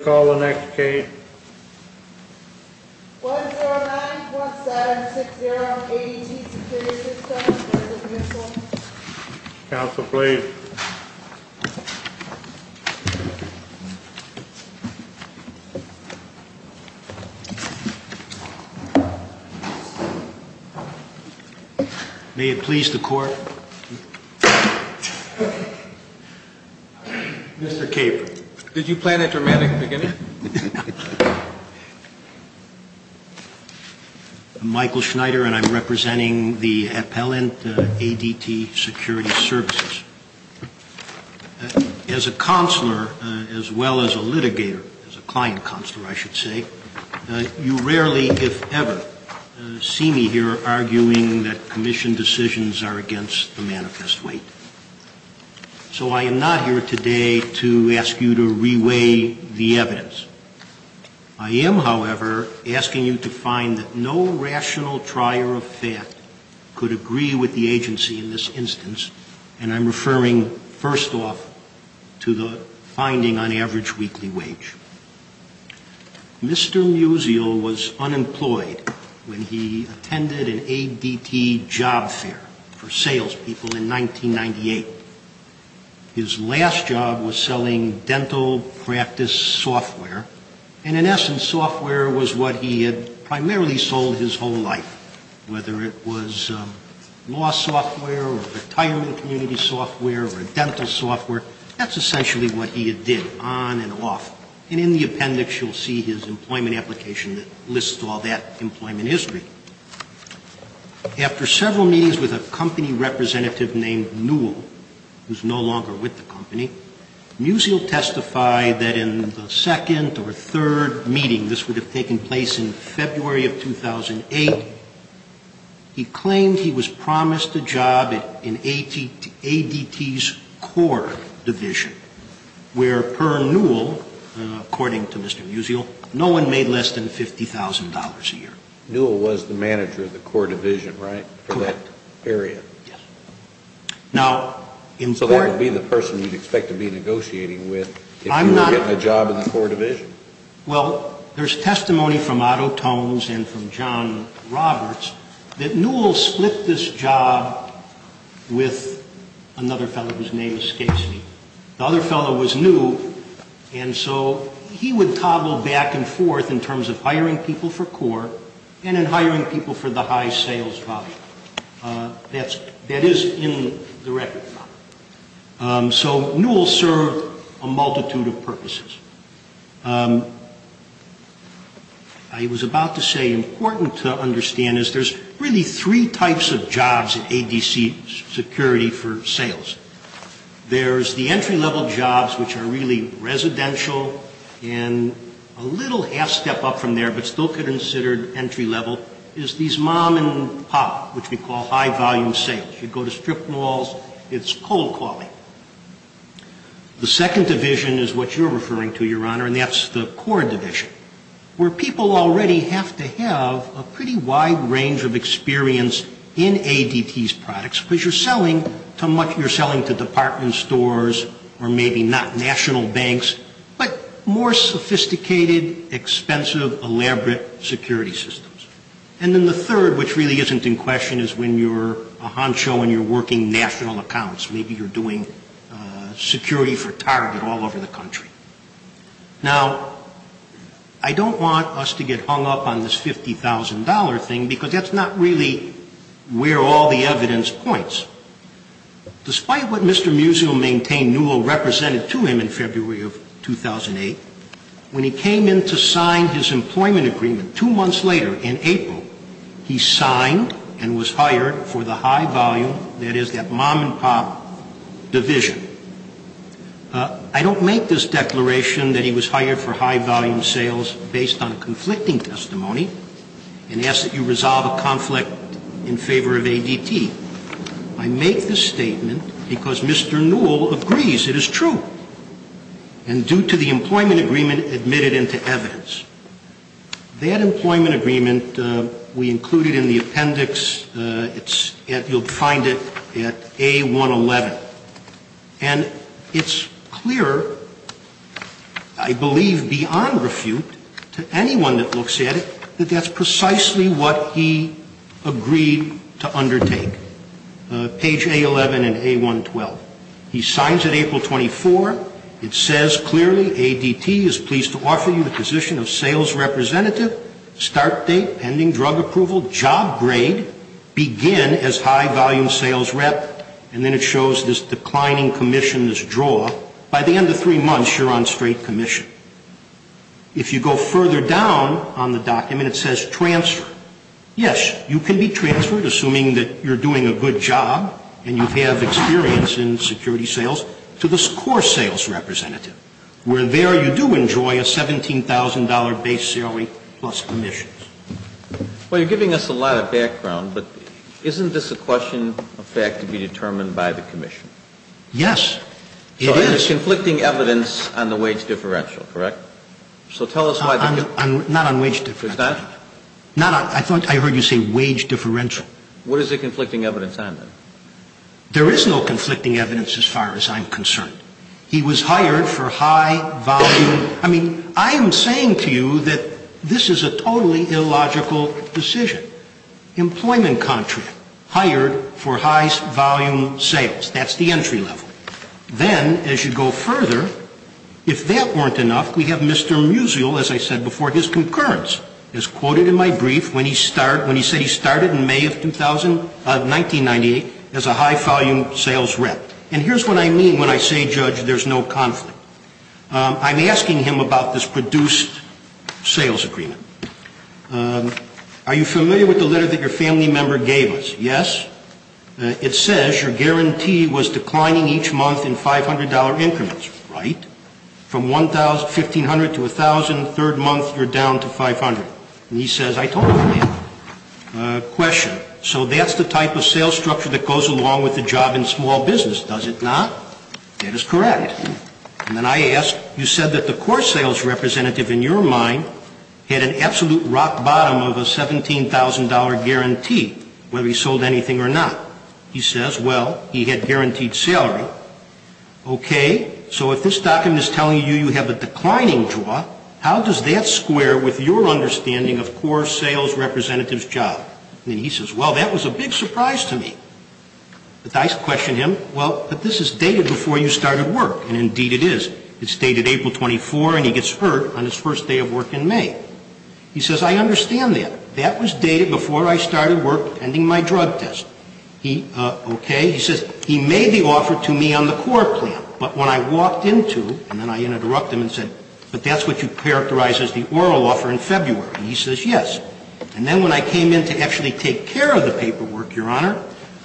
Call the next case. 109-1760 ADT Security Systems v. Mutual Counsel, please. May it please the Court. Mr. Caper. Did you plan it dramatically, didn't you? I'm Michael Schneider, and I'm representing the appellant ADT Security Services. As a counselor, as well as a litigator, as a client counselor, I should say, you rarely, if ever, see me here arguing that commission decisions are against the manifest weight. So I am not here today to ask you to reweigh the evidence. I am, however, asking you to find that no rational trier of fact could agree with the agency in this instance, and I'm referring, first off, to the finding on average weekly wage. Mr. Musial was unemployed when he attended an ADT job fair for salespeople in 1998. His last job was selling dental practice software, and in essence, software was what he had primarily sold his whole life, whether it was law software or retirement community software or dental software. That's essentially what he did, on and off. And in the appendix, you'll see his employment application that lists all that employment history. After several meetings with a company representative named Newell, who's no longer with the company, Musial testified that in the second or third meeting, this would have taken place in February of 2008, he claimed he was promised a job in ADT's core division, where per Newell, according to Mr. Musial, no one made less than $50,000 a year. Newell was the manager of the core division, right? Correct. For that area. Yes. Now, in court... So that would be the person you'd expect to be negotiating with if you were getting a job in the core division. Well, there's testimony from Otto Tones and from John Roberts that Newell split this job with another fellow whose name escapes me. The other fellow was new, and so he would tobble back and forth in terms of hiring people for core and in hiring people for the high sales department. That is in the record. So Newell served a multitude of purposes. I was about to say important to understand is there's really three types of jobs at ADC security for sales. There's the entry-level jobs, which are really residential, and a little half-step up from there, but still considered entry-level, is these mom-and-pop, which we call high-volume sales. You go to strip malls, it's cold-calling. The second division is what you're referring to, Your Honor, and that's the core division, where people already have to have a pretty wide range of experience in ADT's products, because you're selling to department stores or maybe not national banks, but more sophisticated, expensive, elaborate security systems. And then the third, which really isn't in question, is when you're a honcho and you're working national accounts. Maybe you're doing security for Target all over the country. Now, I don't want us to get hung up on this $50,000 thing, because that's not really where all the evidence points. Despite what Mr. Museum Maintain Newell represented to him in February of 2008, when he came in to sign his employment agreement two months later in April, he signed and was hired for the high-volume, that is, that mom-and-pop division. I don't make this declaration that he was hired for high-volume sales based on a conflicting testimony and ask that you resolve a conflict in favor of ADT. I make this statement because Mr. Newell agrees it is true, and due to the employment agreement admitted into evidence. That employment agreement, we include it in the appendix. You'll find it at A111. And it's clear, I believe beyond refute, to anyone that looks at it, that that's precisely what he agreed to undertake. Page A11 and A112. He signs it April 24. It says clearly, ADT is pleased to offer you the position of sales representative. Start date, pending drug approval. Job grade, begin as high-volume sales rep. And then it shows this declining commission, this draw. By the end of three months, you're on straight commission. If you go further down on the document, it says transfer. Yes, you can be transferred, assuming that you're doing a good job and you have experience in security sales, to this core sales representative. Where there, you do enjoy a $17,000 base salary plus commissions. Well, you're giving us a lot of background, but isn't this a question of fact to be determined by the commission? Yes, it is. So there's conflicting evidence on the wage differential, correct? Not on wage differential. I thought I heard you say wage differential. What is the conflicting evidence on that? There is no conflicting evidence as far as I'm concerned. He was hired for high-volume. I mean, I am saying to you that this is a totally illogical decision. Employment contract, hired for high-volume sales. That's the entry level. Then, as you go further, if that weren't enough, we have Mr. Musial, as I said before, his concurrence. It's quoted in my brief when he said he started in May of 1998 as a high-volume sales rep. And here's what I mean when I say, Judge, there's no conflict. I'm asking him about this produced sales agreement. Are you familiar with the letter that your family member gave us? Yes? It says your guarantee was declining each month in $500 increments, right? From $1,500 to $1,000, third month you're down to $500. And he says, I totally get it. Question. So that's the type of sales structure that goes along with the job in small business, does it not? That is correct. And then I ask, you said that the core sales representative in your mind had an absolute rock bottom of a $17,000 guarantee, whether he sold anything or not. He says, well, he had guaranteed salary. Okay. So if this document is telling you you have a declining draw, how does that square with your understanding of core sales representative's job? And he says, well, that was a big surprise to me. But I question him, well, but this is dated before you started work. And indeed it is. It's dated April 24, and he gets hurt on his first day of work in May. He says, I understand that. That was dated before I started work pending my drug test. Okay. He says, he made the offer to me on the core plan, but when I walked into, and then I interrupt him and said, but that's what you characterized as the oral offer in February. And he says, yes. And then when I came in to actually take care of the paperwork, Your Honor,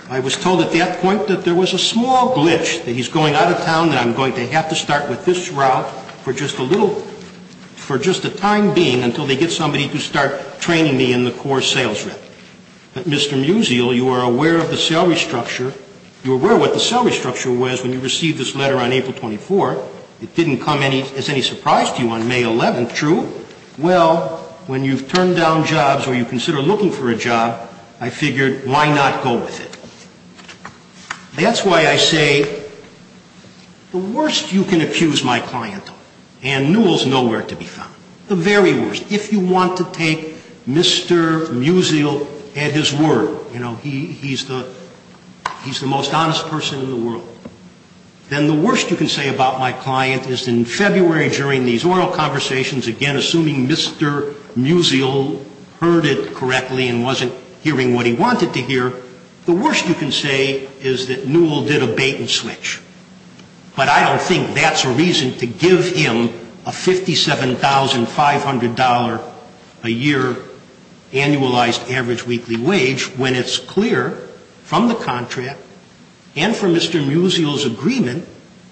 I was told at that point that there was a small glitch, that he's going out of town, that I'm going to have to start with this route for just a little, for just a time being until they get somebody to start training me in the core sales rep. But Mr. Musial, you are aware of the salary structure. You're aware what the salary structure was when you received this letter on April 24. It didn't come as any surprise to you on May 11, true? Well, when you've turned down jobs or you consider looking for a job, I figured, why not go with it? That's why I say, the worst you can accuse my client of, and Newell's nowhere to be found, the very worst. If you want to take Mr. Musial at his word, you know, he's the most honest person in the world, then the worst you can say about my client is in February during these oral conversations, again, assuming Mr. Musial heard it correctly and wasn't hearing what he wanted to hear, the worst you can say is that Newell did a bait and switch. But I don't think that's a reason to give him a $57,500 a year annualized average weekly wage when it's clear from the contract and from Mr. Musial's agreement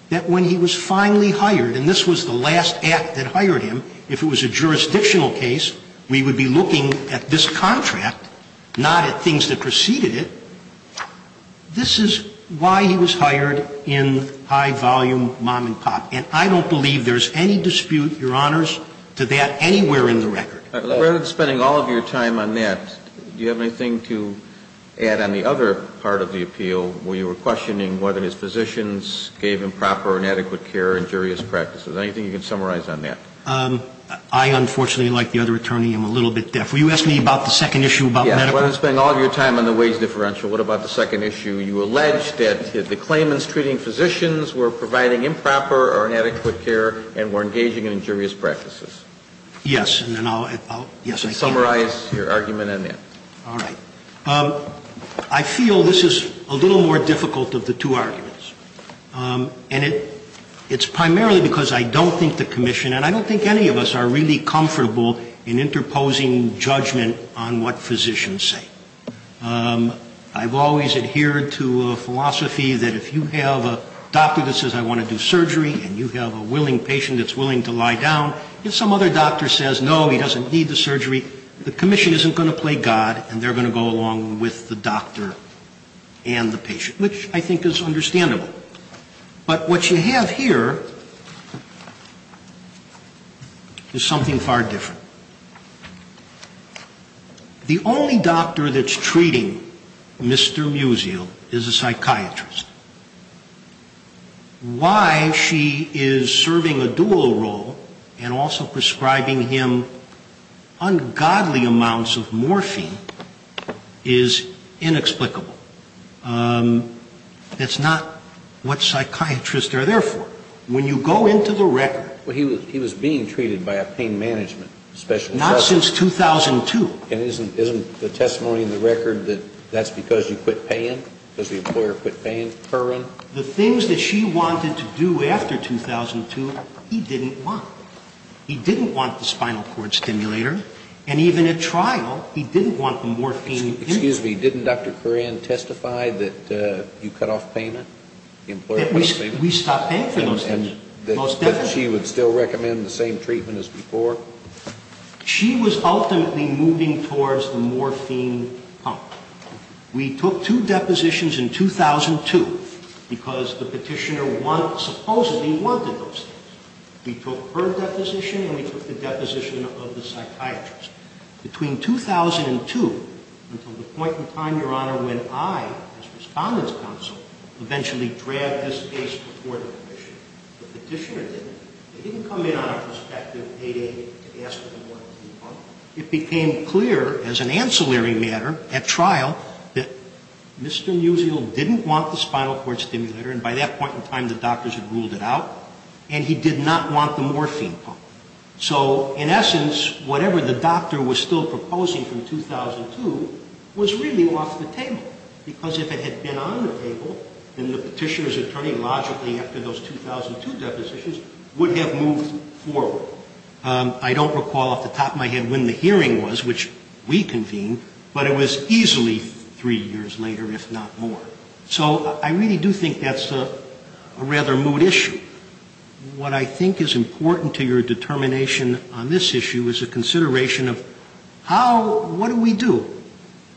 that when he was finally hired, and this was the last act that hired him, if it was a jurisdictional case, we would be looking at this contract, not at things that preceded it. This is why he was hired in high volume mom and pop. And I don't believe there's any dispute, Your Honors, to that anywhere in the record. Rather than spending all of your time on that, do you have anything to add on the other part of the appeal where you were questioning whether his physicians gave improper or inadequate care or injurious practices? Anything you can summarize on that? I, unfortunately, like the other attorney, am a little bit deaf. Will you ask me about the second issue about medical? Yes. Rather than spending all of your time on the wage differential, what about the second issue? You allege that the claimants treating physicians were providing improper or inadequate care and were engaging in injurious practices. Yes. And then I'll, yes, I can. Summarize your argument on that. All right. I feel this is a little more difficult of the two arguments. And it's primarily because I don't think the commission, and I don't think any of us, are really comfortable in interposing judgment on what physicians say. I've always adhered to a philosophy that if you have a doctor that says, I want to do surgery, and you have a willing patient that's willing to lie down, if some other doctor says, no, he doesn't need the surgery, the commission isn't going to play God and they're going to go along with the doctor and the patient, which I think is understandable. But what you have here is something far different. The only doctor that's treating Mr. Musial is a psychiatrist. Why she is serving a dual role and also prescribing him ungodly amounts of morphine is inexplicable. That's not what psychiatrists are there for. When you go into the record. Well, he was being treated by a pain management specialist. Not since 2002. And isn't the testimony in the record that that's because you quit paying, because the employer quit paying for him? The things that she wanted to do after 2002, he didn't want. He didn't want the spinal cord stimulator. And even at trial, he didn't want the morphine. Excuse me, didn't Dr. Curran testify that you cut off payment? That we stopped paying for those things? That she would still recommend the same treatment as before? She was ultimately moving towards the morphine pump. We took two depositions in 2002 because the petitioner supposedly wanted those things. We took her deposition and we took the deposition of the psychiatrist. Between 2002 until the point in time, Your Honor, when I, as Respondent's Counsel, eventually dragged this case before the commission. The petitioner didn't. They didn't come in on a prospective payday to ask for the morphine pump. It became clear, as an ancillary matter at trial, that Mr. Musial didn't want the spinal cord stimulator. And by that point in time, the doctors had ruled it out. And he did not want the morphine pump. So, in essence, whatever the doctor was still proposing from 2002 was really off the table. Because if it had been on the table, then the petitioner's attorney, logically, after those 2002 depositions, would have moved forward. I don't recall off the top of my head when the hearing was, which we convened, but it was easily three years later, if not more. So I really do think that's a rather moot issue. What I think is important to your determination on this issue is a consideration of how, what do we do?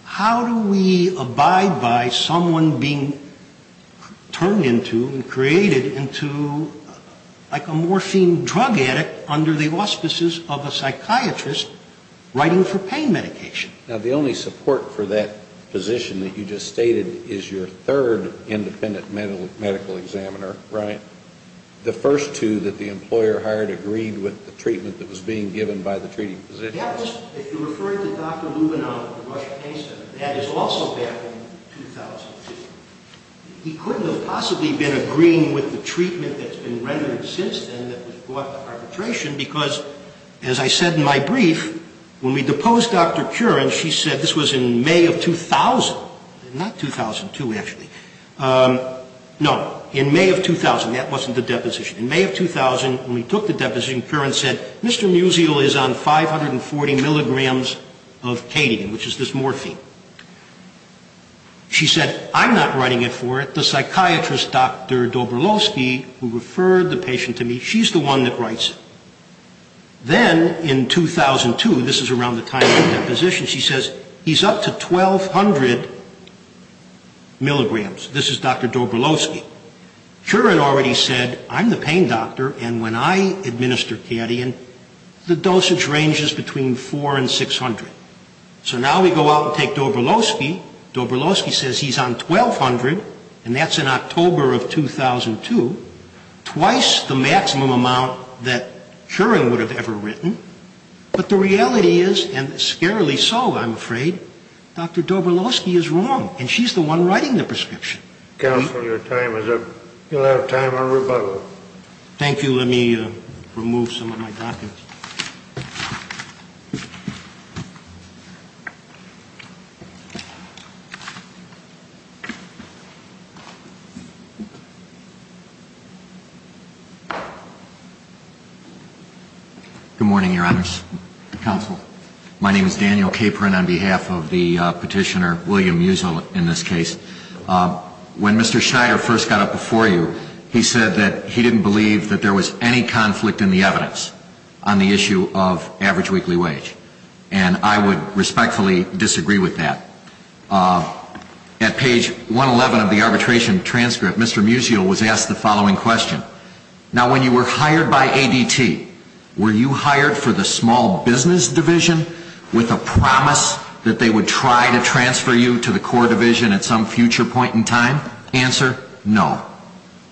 How do we abide by someone being turned into and created into like a morphine drug addict under the auspices of a psychiatrist writing for pain medication? Now, the only support for that position that you just stated is your third independent medical examiner, right? The first two that the employer hired agreed with the treatment that was being given by the treating physician. If you're referring to Dr. Lubinov of the Russian Pain Center, that is also back in 2005. He couldn't have possibly been agreeing with the treatment that's been rendered since then that was brought to arbitration because, as I said in my brief, when we deposed Dr. Curran, she said, this was in May of 2000, not 2002, actually. No, in May of 2000, that wasn't the deposition. In May of 2000, when we took the deposition, Curran said, Mr. Musial is on 540 milligrams of cadian, which is this morphine. She said, I'm not writing it for it. The psychiatrist, Dr. Dobrolovsky, who referred the patient to me, she's the one that writes it. Then, in 2002, this is around the time of the deposition, she says, he's up to 1,200 milligrams. This is Dr. Dobrolovsky. Curran already said, I'm the pain doctor, and when I administer cadian, the dosage ranges between 400 and 600. So now we go out and take Dobrolovsky. Dobrolovsky says he's on 1,200, and that's in October of 2002, twice the maximum amount that Curran would have ever written. But the reality is, and scarily so, I'm afraid, Dr. Dobrolovsky is wrong, and she's the one writing the prescription. Counsel, your time is up. You'll have time on rebuttal. Thank you. Let me remove some of my documents. Thank you. Good morning, Your Honors. Counsel. My name is Daniel Capron on behalf of the petitioner, William Musil, in this case. When Mr. Schneider first got up before you, he said that he didn't believe that there was any conflict in the evidence on the issue of average weekly wage. And I would respectfully disagree with that. At page 111 of the arbitration transcript, Mr. Musil was asked the following question. Now, when you were hired by ADT, were you hired for the small business division with a promise that they would try to transfer you to the core division at some future point in time? Answer, no.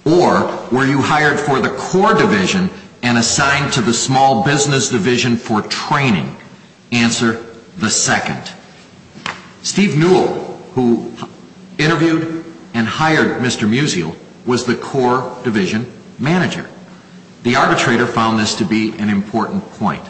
Or were you hired for the core division and assigned to the small business division for training? Answer, the second. Steve Newell, who interviewed and hired Mr. Musil, was the core division manager. The arbitrator found this to be an important point.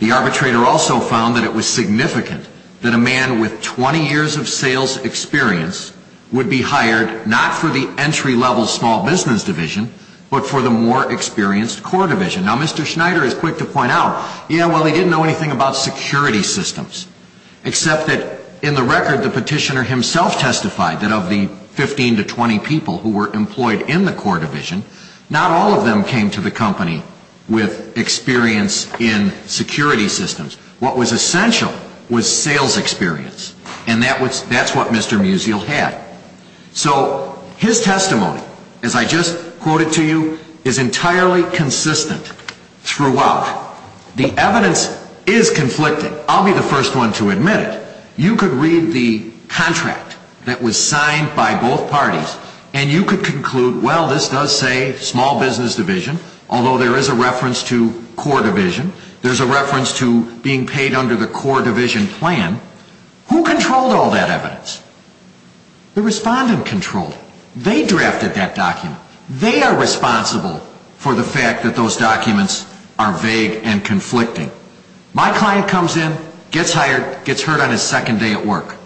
The arbitrator also found that it was significant that a man with 20 years of sales experience would be hired not for the entry-level small business division but for the more experienced core division. Now, Mr. Schneider is quick to point out, yeah, well, he didn't know anything about security systems. Except that in the record, the petitioner himself testified that of the 15 to 20 people who were employed in the core division, not all of them came to the company with experience in security systems. What was essential was sales experience. And that's what Mr. Musil had. So his testimony, as I just quoted to you, is entirely consistent throughout. The evidence is conflicting. I'll be the first one to admit it. You could read the contract that was signed by both parties and you could conclude, well, this does say small business division, although there is a reference to core division. There's a reference to being paid under the core division plan. Who controlled all that evidence? The respondent controlled it. They drafted that document. They are responsible for the fact that those documents are vague and conflicting. My client comes in, gets hired, gets hurt on his second day at work.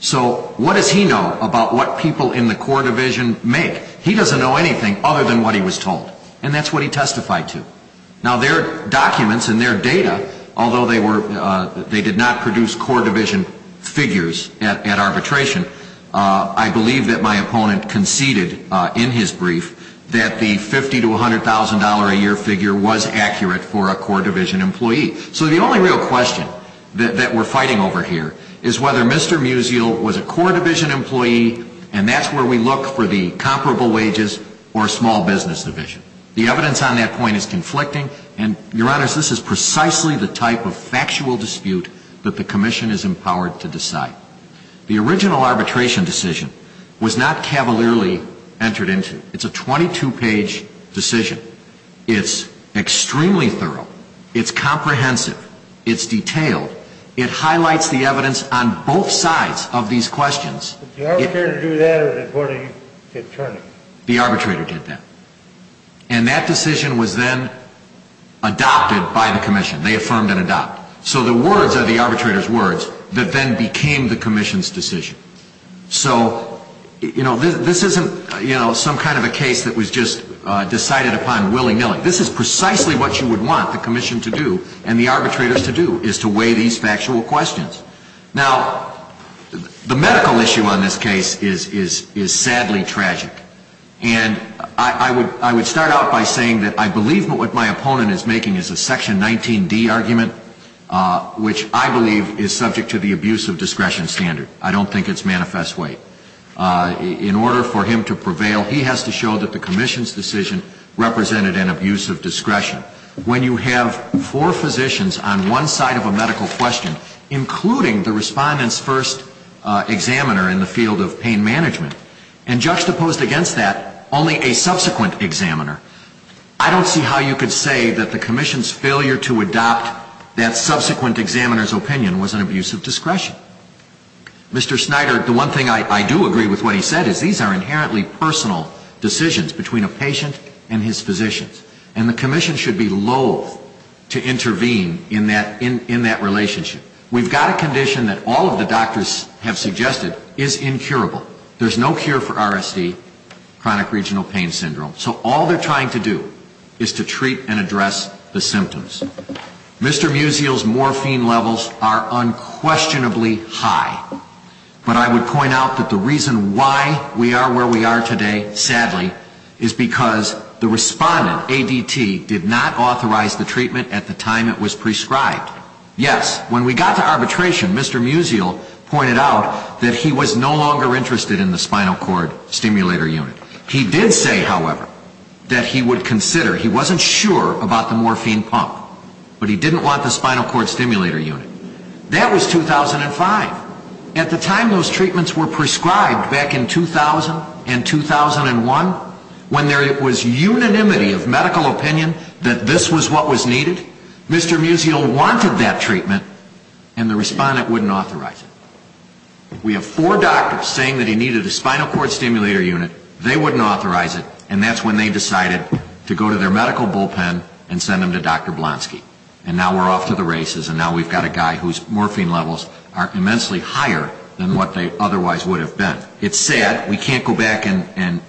So what does he know about what people in the core division make? He doesn't know anything other than what he was told. And that's what he testified to. Now, their documents and their data, although they did not produce core division figures at arbitration, I believe that my opponent conceded in his brief that the $50,000 to $100,000 a year figure was accurate for a core division employee. So the only real question that we're fighting over here is whether Mr. Musial was a core division employee and that's where we look for the comparable wages or small business division. The evidence on that point is conflicting and, Your Honor, this is precisely the type of factual dispute that the Commission is empowered to decide. The original arbitration decision was not cavalierly entered into. It's a 22-page decision. It's extremely thorough. It's comprehensive. It's detailed. It highlights the evidence on both sides of these questions. Did the arbitrator do that or did one of you get turned in? The arbitrator did that. And that decision was then adopted by the Commission. They affirmed and adopted. So the words are the arbitrator's words that then became the Commission's decision. So this isn't some kind of a case that was just decided upon willy-nilly. This is precisely what you would want the Commission to do and the arbitrators to do is to weigh these factual questions. Now, the medical issue on this case is sadly tragic. And I would start out by saying that I believe what my opponent is making is a Section 19D argument, which I believe is subject to the abuse of discretion standard. I don't think it's manifest weight. In order for him to prevail, he has to show that the Commission's decision represented an abuse of discretion. When you have four physicians on one side of a medical question, including the respondent's first examiner in the field of pain management, and juxtaposed against that only a subsequent examiner, I don't see how you could say that the Commission's failure to adopt that subsequent examiner's opinion was an abuse of discretion. Mr. Snyder, the one thing I do agree with what he said is these are inherently personal decisions between a patient and his physicians. And the Commission should be loathe to intervene in that relationship. We've got a condition that all of the doctors have suggested is incurable. There's no cure for RSD, chronic regional pain syndrome. So all they're trying to do is to treat and address the symptoms. Mr. Musial's morphine levels are unquestionably high. But I would point out that the reason why we are where we are today, sadly, is because the respondent, ADT, did not authorize the treatment at the time it was prescribed. Yes, when we got to arbitration, Mr. Musial pointed out that he was no longer interested in the spinal cord stimulator unit. He did say, however, that he would consider. He wasn't sure about the morphine pump. But he didn't want the spinal cord stimulator unit. That was 2005. At the time those treatments were prescribed back in 2000 and 2001, when there was unanimity of medical opinion that this was what was needed, Mr. Musial wanted that treatment, and the respondent wouldn't authorize it. We have four doctors saying that he needed a spinal cord stimulator unit. They wouldn't authorize it, and that's when they decided to go to their medical bullpen and send him to Dr. Blonsky. And now we're off to the races and now we've got a guy whose morphine levels are immensely higher than what they otherwise would have been. It's sad. We can't go back and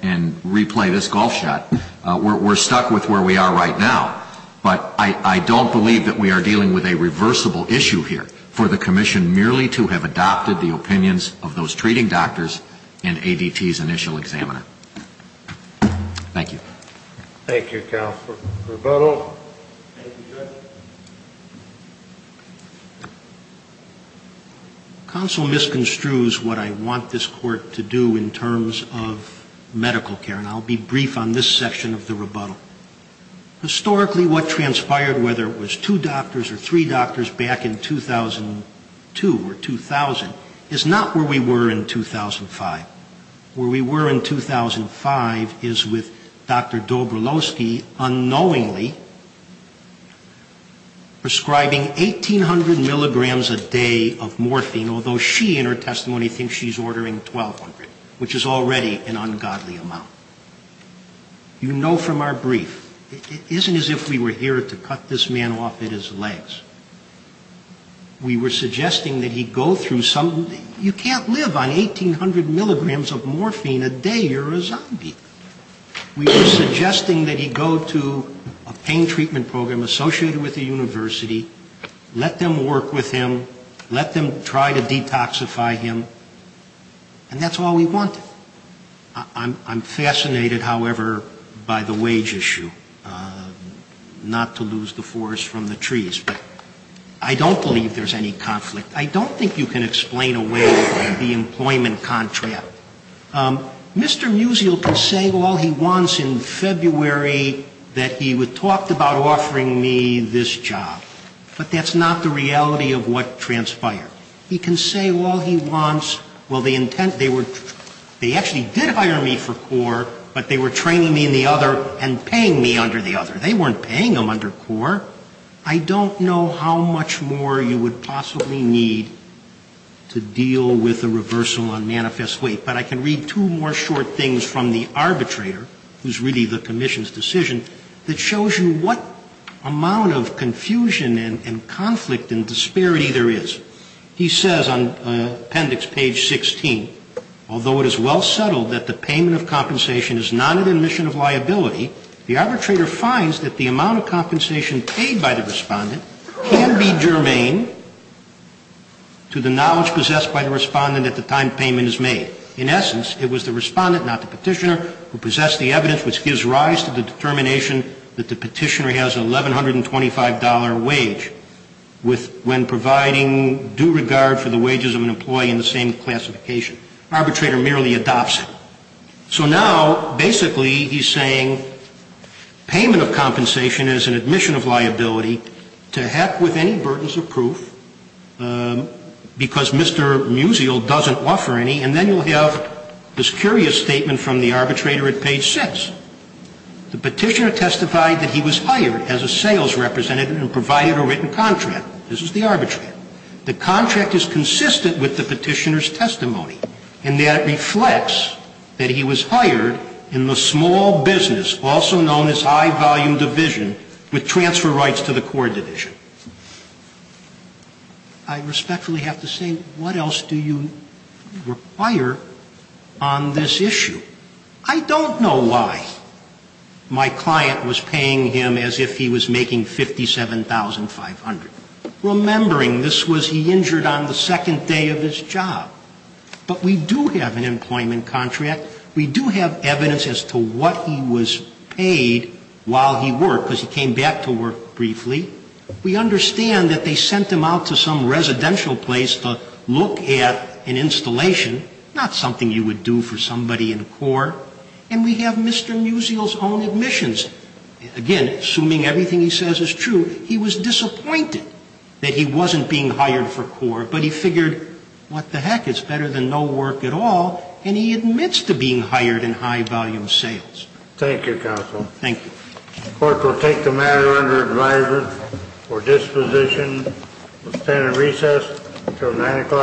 replay this golf shot. We're stuck with where we are right now. But I don't believe that we are dealing with a reversible issue here for the Commission merely to have adopted the opinions of those treating doctors and ADT's initial examiner. Thank you. Thank you, counsel. Rebuttal? Counsel misconstrues what I want this Court to do in terms of medical care, and I'll be brief on this section of the rebuttal. Historically, what transpired, whether it was two doctors or three doctors back in 2002 or 2000, is not where we were in 2005. Where we were in 2005 is with Dr. Dobrolowski unknowingly prescribing 1,800 milligrams a day of morphine, although she in her testimony thinks she's ordering 1,200, which is already an ungodly amount. You know from our brief it isn't as if we were here to cut this man off at his legs. We were suggesting that he go through some you can't live on 1,800 milligrams of morphine a day, you're a zombie. We were suggesting that he go to a pain treatment program associated with the university, let them work with him, let them try to detoxify him, I'm fascinated, however, by the wage issue, not to lose the forest from the trees. I don't believe there's any conflict. I don't think you can explain away the employment contract. Mr. Musial can say all he wants in February that he talked about offering me this job, but that's not the reality of what transpired. He can say all he wants, they actually did hire me for CORE, but they were training me in the other and paying me under the other. They weren't paying them under CORE. I don't know how much more you would possibly need to deal with a reversal on manifest weight, but I can read two more short things from the arbitrator, who's really the commission's decision, that shows you what amount of confusion and conflict and disparity there is. He says on appendix page 16, although it is well settled that the payment of compensation is not an admission of liability, the arbitrator finds that the amount of compensation paid by the respondent can be germane to the knowledge possessed by the respondent at the time payment is made. In essence, it was the respondent, not the petitioner, who possessed the evidence which gives rise to the determination that the petitioner has an $1,125 wage when providing due regard for the wages of an employee in the same classification. Arbitrator merely adopts it. So now, basically, he's saying payment of compensation is an admission of liability to heck with any burdens of proof because Mr. Musial doesn't offer any, and then you'll have this curious statement from the arbitrator at page 6. The petitioner testified that he was hired as a sales representative and provided a written contract. This is the arbitrator. The contract is consistent with the petitioner's testimony and that it reflects that he was hired in the small business, also known as high volume division, with transfer rights to the core division. I respectfully have to say, what else do you require on this issue? I don't know why my client was paying him as if he was making $57,500, remembering this was he injured on the second day of his job. But we do have an employment contract. We do have evidence as to what he was paid while he worked, because he came back to work briefly. We understand that they sent him out to some residential place to look at an installation, not something you would do for somebody in the core. And we have Mr. Musial's own admissions. Again, assuming everything he says is true, he was disappointed that he wasn't being hired for core, but he figured what the heck, it's better than no work at all, and he admits to being hired in high volume sales. Thank you, counsel. Thank you. The court will take the matter under advisement for disposition. We'll stand in recess until 9 o'clock.